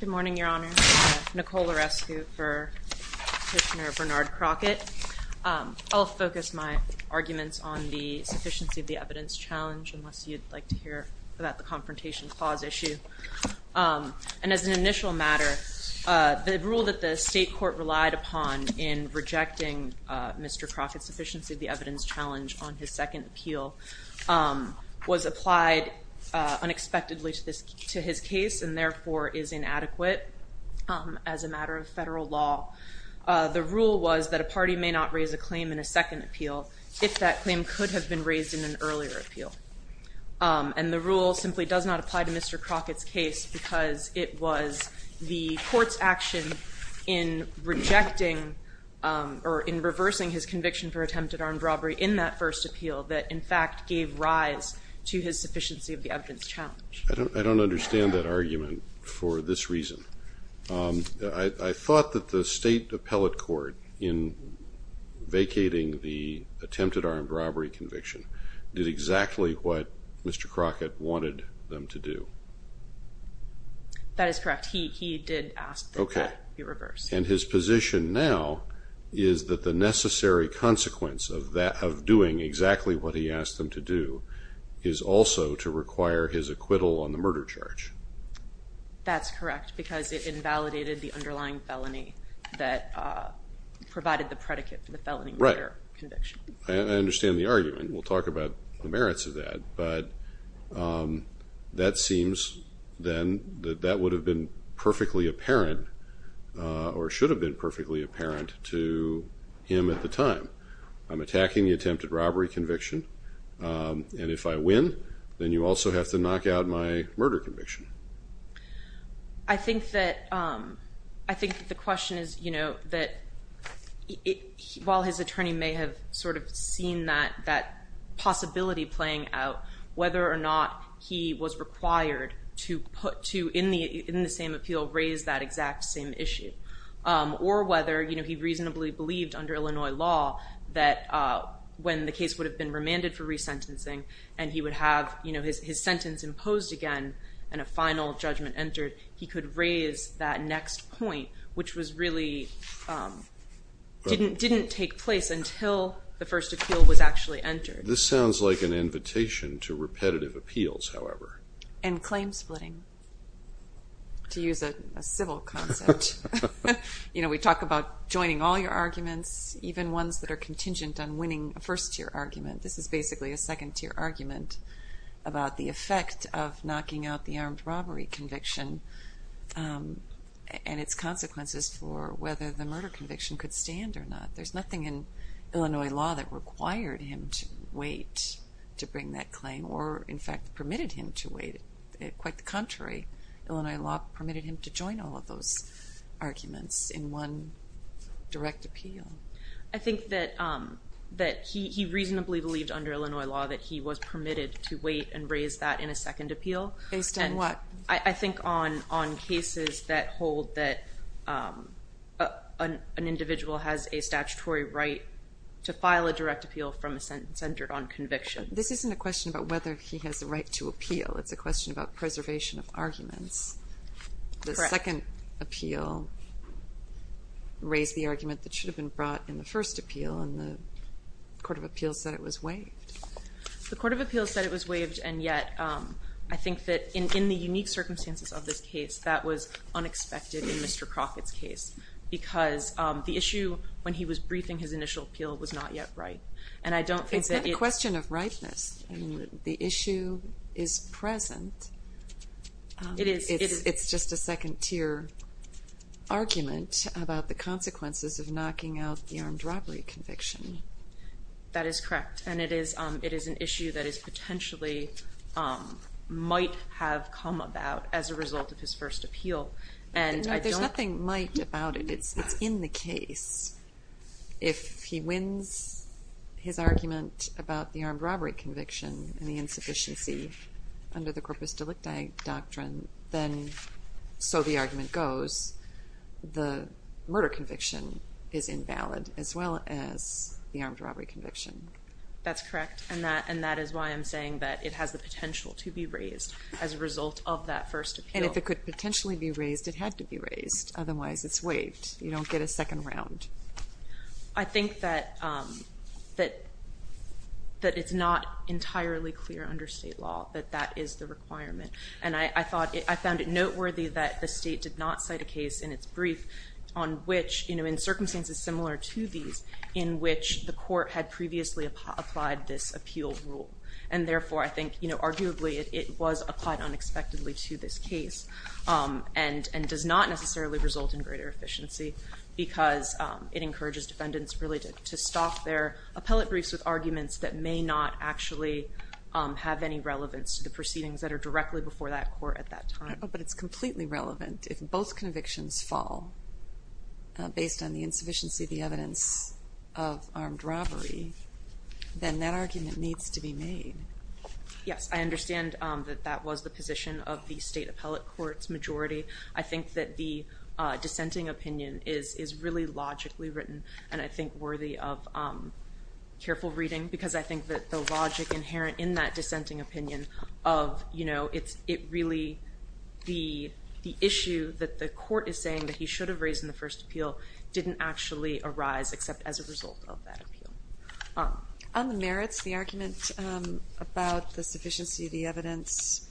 Good morning, Your Honor. Nicole Larescu for Petitioner Bernard Crockett. I'll focus my arguments on the sufficiency of the evidence challenge, unless you'd like to hear about the confrontation clause issue. And as an initial matter, the rule that the state court relied upon in rejecting Mr. Crockett's sufficiency of the evidence challenge on his second appeal was applied unexpectedly to his case and therefore is inadequate as a matter of federal law. The rule was that a party may not raise a claim in a second appeal if that claim could have been raised in an earlier appeal. And the rule simply does not apply to Mr. Crockett's case because it was the court's action in rejecting or in reversing his conviction for attempted armed robbery in that first appeal that, in fact, gave rise to his sufficiency of the evidence challenge. I don't understand that argument for this reason. I thought that the state appellate court in vacating the attempted armed robbery conviction did exactly what Mr. Crockett wanted them to do. That is correct. He did ask that that be reversed. And his position now is that the necessary consequence of doing exactly what he asked them to do is also to require his acquittal on the murder charge. That's correct because it invalidated the underlying felony that provided the predicate for the felony murder conviction. Right. I understand the argument. We'll talk about the merits of that, but that seems, then, that that would have been perfectly apparent or should have been perfectly apparent to him at the time. I'm attacking the attempted robbery conviction, and if I win, then you also have to knock out my murder conviction. I think that the question is, you know, that while his attorney may have sort of seen that possibility playing out, whether or not he was required to put to, in the same appeal, raise that exact same issue, or whether, you know, he reasonably believed under Illinois law that when the case would have been remanded for resentencing and he would have, you know, his sentence imposed again and a final judgment entered, he could raise that next point, which was really, didn't take place until the first appeal was actually entered. This sounds like an invitation to repetitive appeals, however. And claim splitting, to use a civil concept. You know, we talk about joining all your arguments, even ones that are contingent on winning a first-tier argument. This is basically a second-tier argument about the effect of knocking out the armed robbery conviction and its consequences for whether the murder conviction could stand or not. There's nothing in Illinois law that required him to wait to bring that claim or, in fact, permitted him to wait. Quite the contrary. Illinois law permitted him to join all of those arguments in one direct appeal. I think that he reasonably believed under Illinois law that he was permitted to wait and raise that in a second appeal. Based on what? I think on cases that hold that an individual has a statutory right to file a direct appeal from a sentence centered on conviction. This isn't a question about whether he has the right to appeal. It's a question about preservation of arguments. The second appeal raised the argument that should have been brought in the first appeal and the court of appeals said it was waived. The court of appeals said it was waived and yet, I think that in the unique circumstances of this case, that was unexpected in Mr. Crockett's case because the issue when he was briefing his initial appeal was not yet right. And I don't think that... It's not a question of rightness. The issue is present. It is. It's just a second-tier argument about the consequences of knocking out the armed robbery conviction. That is correct. And it is an issue that is potentially might have come about as a result of his first appeal. And I don't... There's nothing might about it. It's in the case. If he wins his argument about the armed robbery conviction and the insufficiency under the corpus delicti doctrine, then so the argument goes, the murder conviction is invalid as well as the armed robbery conviction. That's correct. And that is why I'm saying that it has the potential to be raised as a result of that first appeal. And if it could potentially be raised, it had to be raised. Otherwise, it's waived. You don't get a second round. I think that it's not entirely clear under state law that that is the requirement. And I found it noteworthy that the state did not cite a case in its brief on which, in circumstances similar to these, in which the court had previously applied this appeal rule. And therefore, I think, arguably, it was applied unexpectedly to this case and does not necessarily result in greater efficiency because it encourages defendants really to stop their appellate briefs with arguments that may not actually have any relevance to the proceedings that are directly before that court at that time. But it's completely relevant if both convictions fall based on the insufficiency of the evidence of armed robbery, then that argument needs to be made. Yes. I understand that that was the position of the state appellate court's majority. I think that the dissenting opinion is really logically written and I think worthy of careful reading because I think that the logic inherent in that dissenting opinion of it really, the issue that the court is saying that he should have raised in the first appeal didn't actually arise except as a result of that appeal. On the merits, the argument about the sufficiency of the evidence,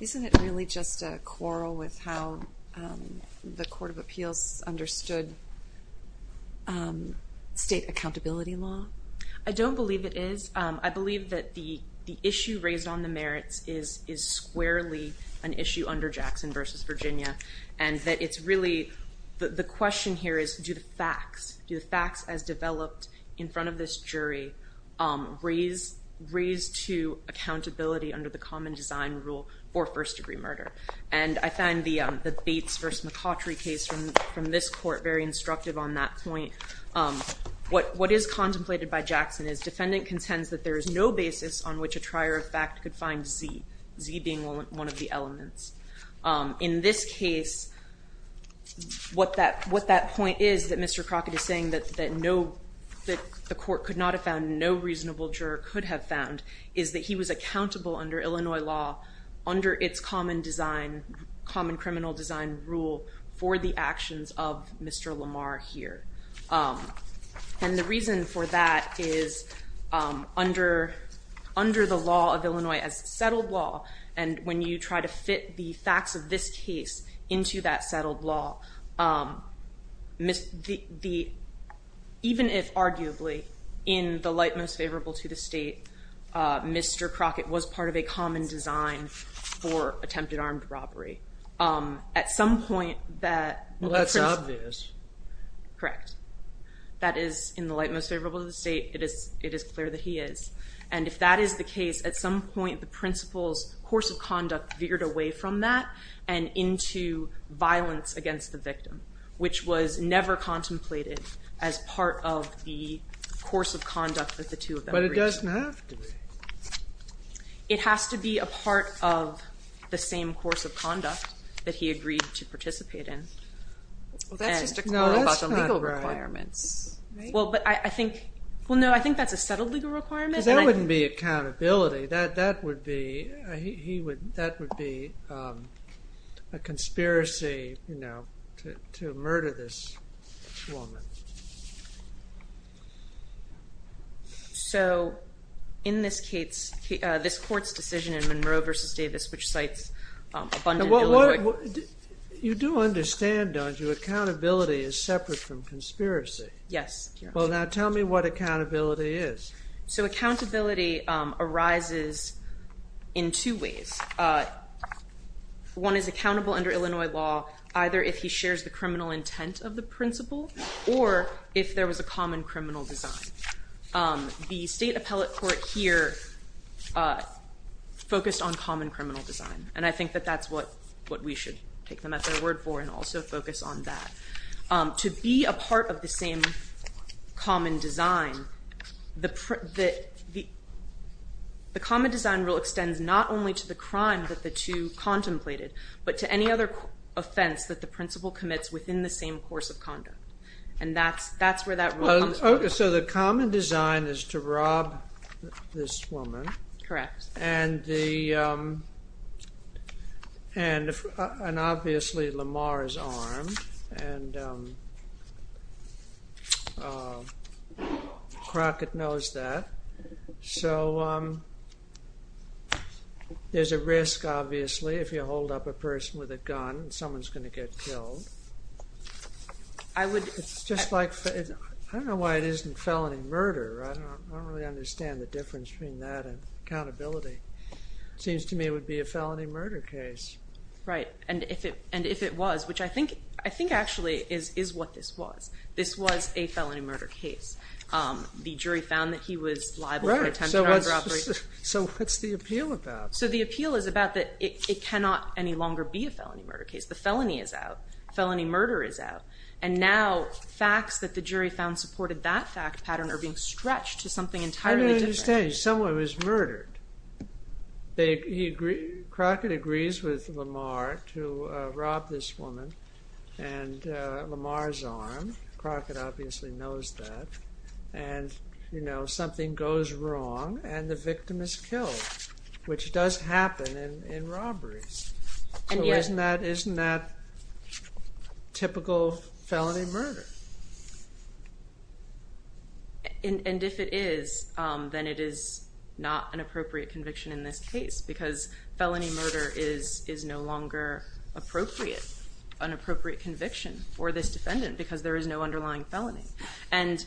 isn't it really just a quarrel with how the Court of Appeals understood state accountability law? I don't believe it is. I believe that the issue raised on the merits is squarely an issue under Jackson v. Virginia and that it's really, the question here is do the facts, do the facts as developed in front of this jury raise to accountability under the common design rule for first degree murder? And I find the Bates v. McCautry case from this court very instructive on that point. What is contemplated by Jackson is defendant contends that there is no basis on which a trier of fact could find Z, Z being one of the elements. In this case, what that point is that Mr. Crockett is saying that the court could not have found, no reasonable juror could have found, is that he was accountable under Illinois law, under its common design, common criminal design rule for the actions of Mr. Lamar here. And the reason for that is under the law of Illinois as settled law and when you try to fit the facts of this case into that settled law, even if arguably in the light most favorable to the state, Mr. Crockett was part of a common design for attempted armed robbery. At some point that... Well, that's obvious. Correct. That is in the light most favorable to the state, it is clear that he is. And if that is the case, at some point the principal's course of conduct veered away from that and into violence against the victim, which was never contemplated as part of the course of conduct that the two of them agreed to. But it doesn't have to be. It has to be a part of the same course of conduct that he agreed to participate in. Well, that's just a quote about some legal requirements. Well, but I think... Well, no, I think that's a settled legal requirement. Because that wouldn't be accountability. Accountability, that would be a conspiracy to murder this woman. So in this case, this court's decision in Monroe v. Davis, which cites abundant illiteracy... You do understand, don't you, accountability is separate from conspiracy? Yes. Well, now tell me what accountability is. So accountability arises in two ways. One is accountable under Illinois law, either if he shares the criminal intent of the principal or if there was a common criminal design. The state appellate court here focused on common criminal design. And I think that that's what we should take them at their word for and also focus on that. To be a part of the same common design, the common design rule extends not only to the crime that the two contemplated, but to any other offense that the principal commits within the same course of conduct. And that's where that rule comes from. So the common design is to rob this woman. Correct. And obviously, Lamar is armed, and Crockett knows that. So there's a risk, obviously, if you hold up a person with a gun, someone's going to get killed. It's just like, I don't know why it isn't felony murder, I don't really understand the difference between that and accountability. Seems to me it would be a felony murder case. Right. And if it was, which I think actually is what this was, this was a felony murder case. The jury found that he was liable for attempted armed robbery. So what's the appeal about? So the appeal is about that it cannot any longer be a felony murder case. The felony is out. Felony murder is out. And now, facts that the jury found supported that fact pattern are being stretched to something entirely different. I don't understand. Someone was murdered. Crockett agrees with Lamar to rob this woman, and Lamar's armed. Crockett obviously knows that. And you know, something goes wrong, and the victim is killed, which does happen in robberies. So isn't that typical felony murder? And if it is, then it is not an appropriate conviction in this case, because felony murder is no longer appropriate, an appropriate conviction for this defendant, because there is no underlying felony. And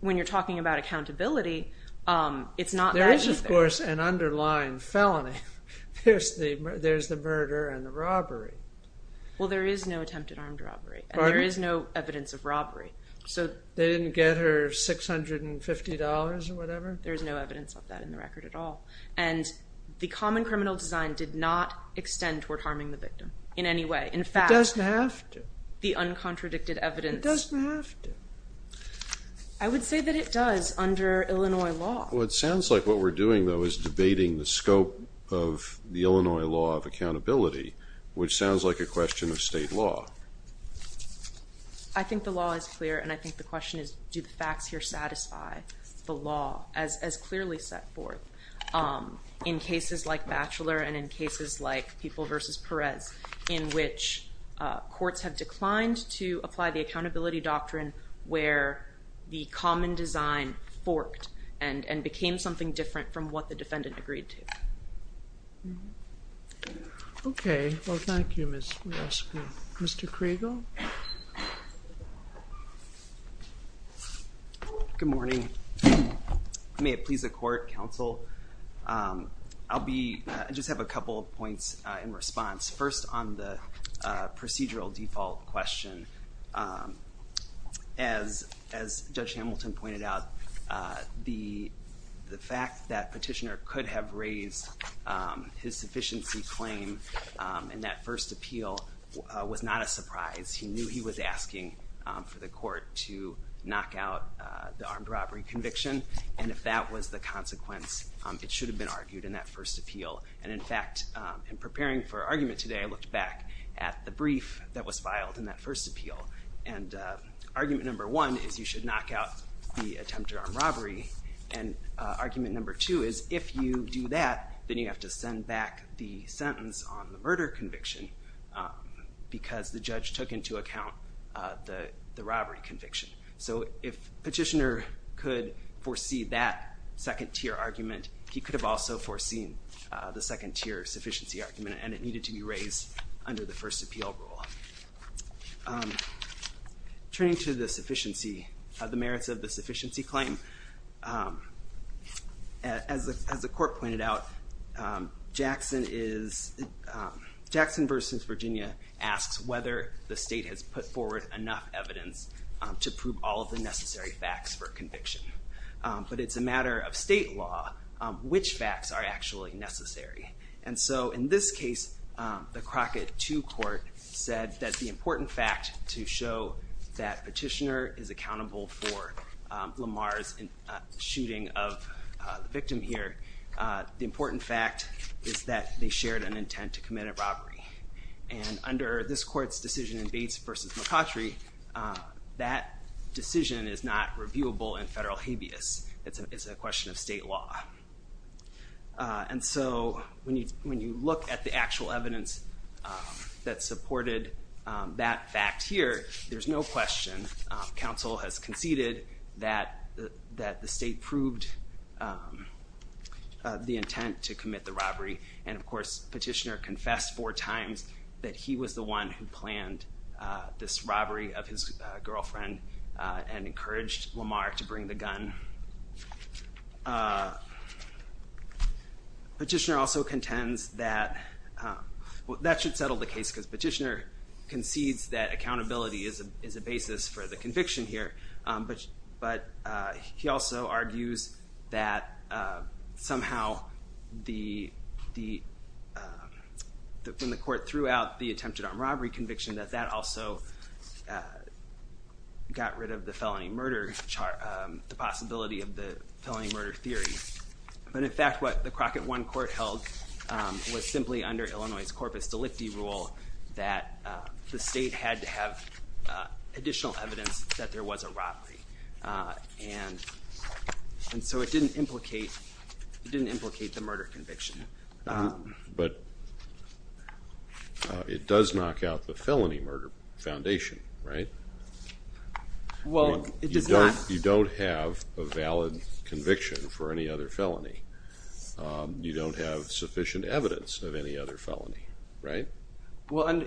when you're talking about accountability, it's not that either. There is, of course, an underlying felony. There's the murder and the robbery. Well, there is no attempted armed robbery, and there is no evidence of robbery. So they didn't get her $650 or whatever? There's no evidence of that in the record at all. And the common criminal design did not extend toward harming the victim in any way. In fact, it doesn't have to. The uncontradicted evidence doesn't have to. I would say that it does under Illinois law. It sounds like what we're doing, though, is debating the scope of the Illinois law of accountability, which sounds like a question of state law. I think the law is clear, and I think the question is, do the facts here satisfy the law as clearly set forth in cases like Batchelor and in cases like People v. Perez, in which courts have declined to apply the accountability doctrine where the common design forked and became something different from what the defendant agreed to? Okay. Well, thank you, Ms. Wiesman. Mr. Kregel? Good morning. May it please the court, counsel? I'll be, I just have a couple of points in response. First, on the procedural default question, as Judge Hamilton pointed out, the fact that Petitioner could have raised his sufficiency claim in that first appeal was not a surprise. He knew he was asking for the court to knock out the armed robbery conviction, and if that was the consequence, it should have been argued in that first appeal. And in fact, in preparing for argument today, I looked back at the brief that was filed in that first appeal, and argument number one is you should knock out the attempted armed robbery, and argument number two is if you do that, then you have to send back the sentence on the murder conviction because the judge took into account the robbery conviction. So if Petitioner could foresee that second tier argument, he could have also foreseen the second tier sufficiency argument, and it needed to be raised under the first appeal rule. Turning to the merits of the sufficiency claim, as the court pointed out, Jackson versus Virginia asks whether the state has put forward enough evidence to prove all of the necessary facts for conviction. But it's a matter of state law, which facts are actually necessary. And so in this case, the Crockett 2 court said that the important fact to show that Petitioner is accountable for Lamar's shooting of the victim here, the important fact is that they shared an intent to commit a robbery. And under this court's decision in Bates versus McCautry, that decision is not reviewable in federal habeas. It's a question of state law. And so when you look at the actual evidence that supported that fact here, there's no question. And counsel has conceded that the state proved the intent to commit the robbery, and of course Petitioner confessed four times that he was the one who planned this robbery of his girlfriend and encouraged Lamar to bring the gun. Petitioner also contends that, well that should settle the case because Petitioner concedes that accountability is a basis for the conviction here. But he also argues that somehow when the court threw out the attempted armed robbery conviction that that also got rid of the felony murder, the possibility of the felony murder theory. But in fact, what the Crockett 1 court held was simply under Illinois' corpus delicti rule that the state had to have additional evidence that there was a robbery. And so it didn't implicate the murder conviction. But it does knock out the felony murder foundation, right? Well it does not. You don't have a valid conviction for any other felony. You don't have sufficient evidence of any other felony, right? Well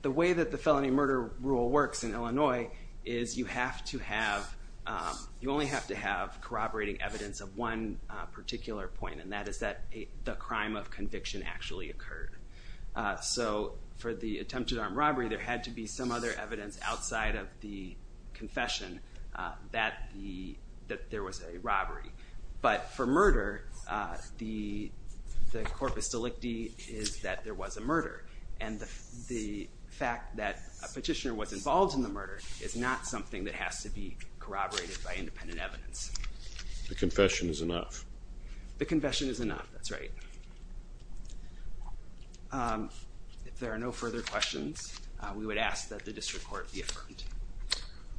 the way that the felony murder rule works in Illinois is you have to have, you only have to have corroborating evidence of one particular point, and that is that the crime of conviction actually occurred. So for the attempted armed robbery there had to be some other evidence outside of the confession that there was a robbery. But for murder, the corpus delicti is that there was a murder, and the fact that a petitioner was involved in the murder is not something that has to be corroborated by independent evidence. The confession is enough. The confession is enough, that's right. If there are no further questions, we would ask that the district court be affirmed.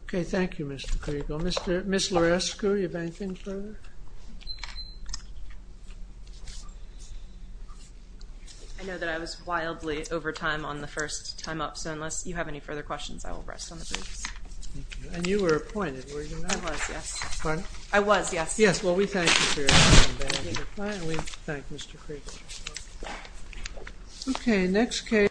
Okay, thank you Mr. Kriegel. Ms. Lorescu, do you have anything further? I know that I was wildly over time on the first time up, so unless you have any further questions I will rest on the briefs. And you were appointed, were you not? I was, yes. Pardon? I was, yes. Yes, well we thank you for your time, and we thank Mr. Kriegel. Okay, next case.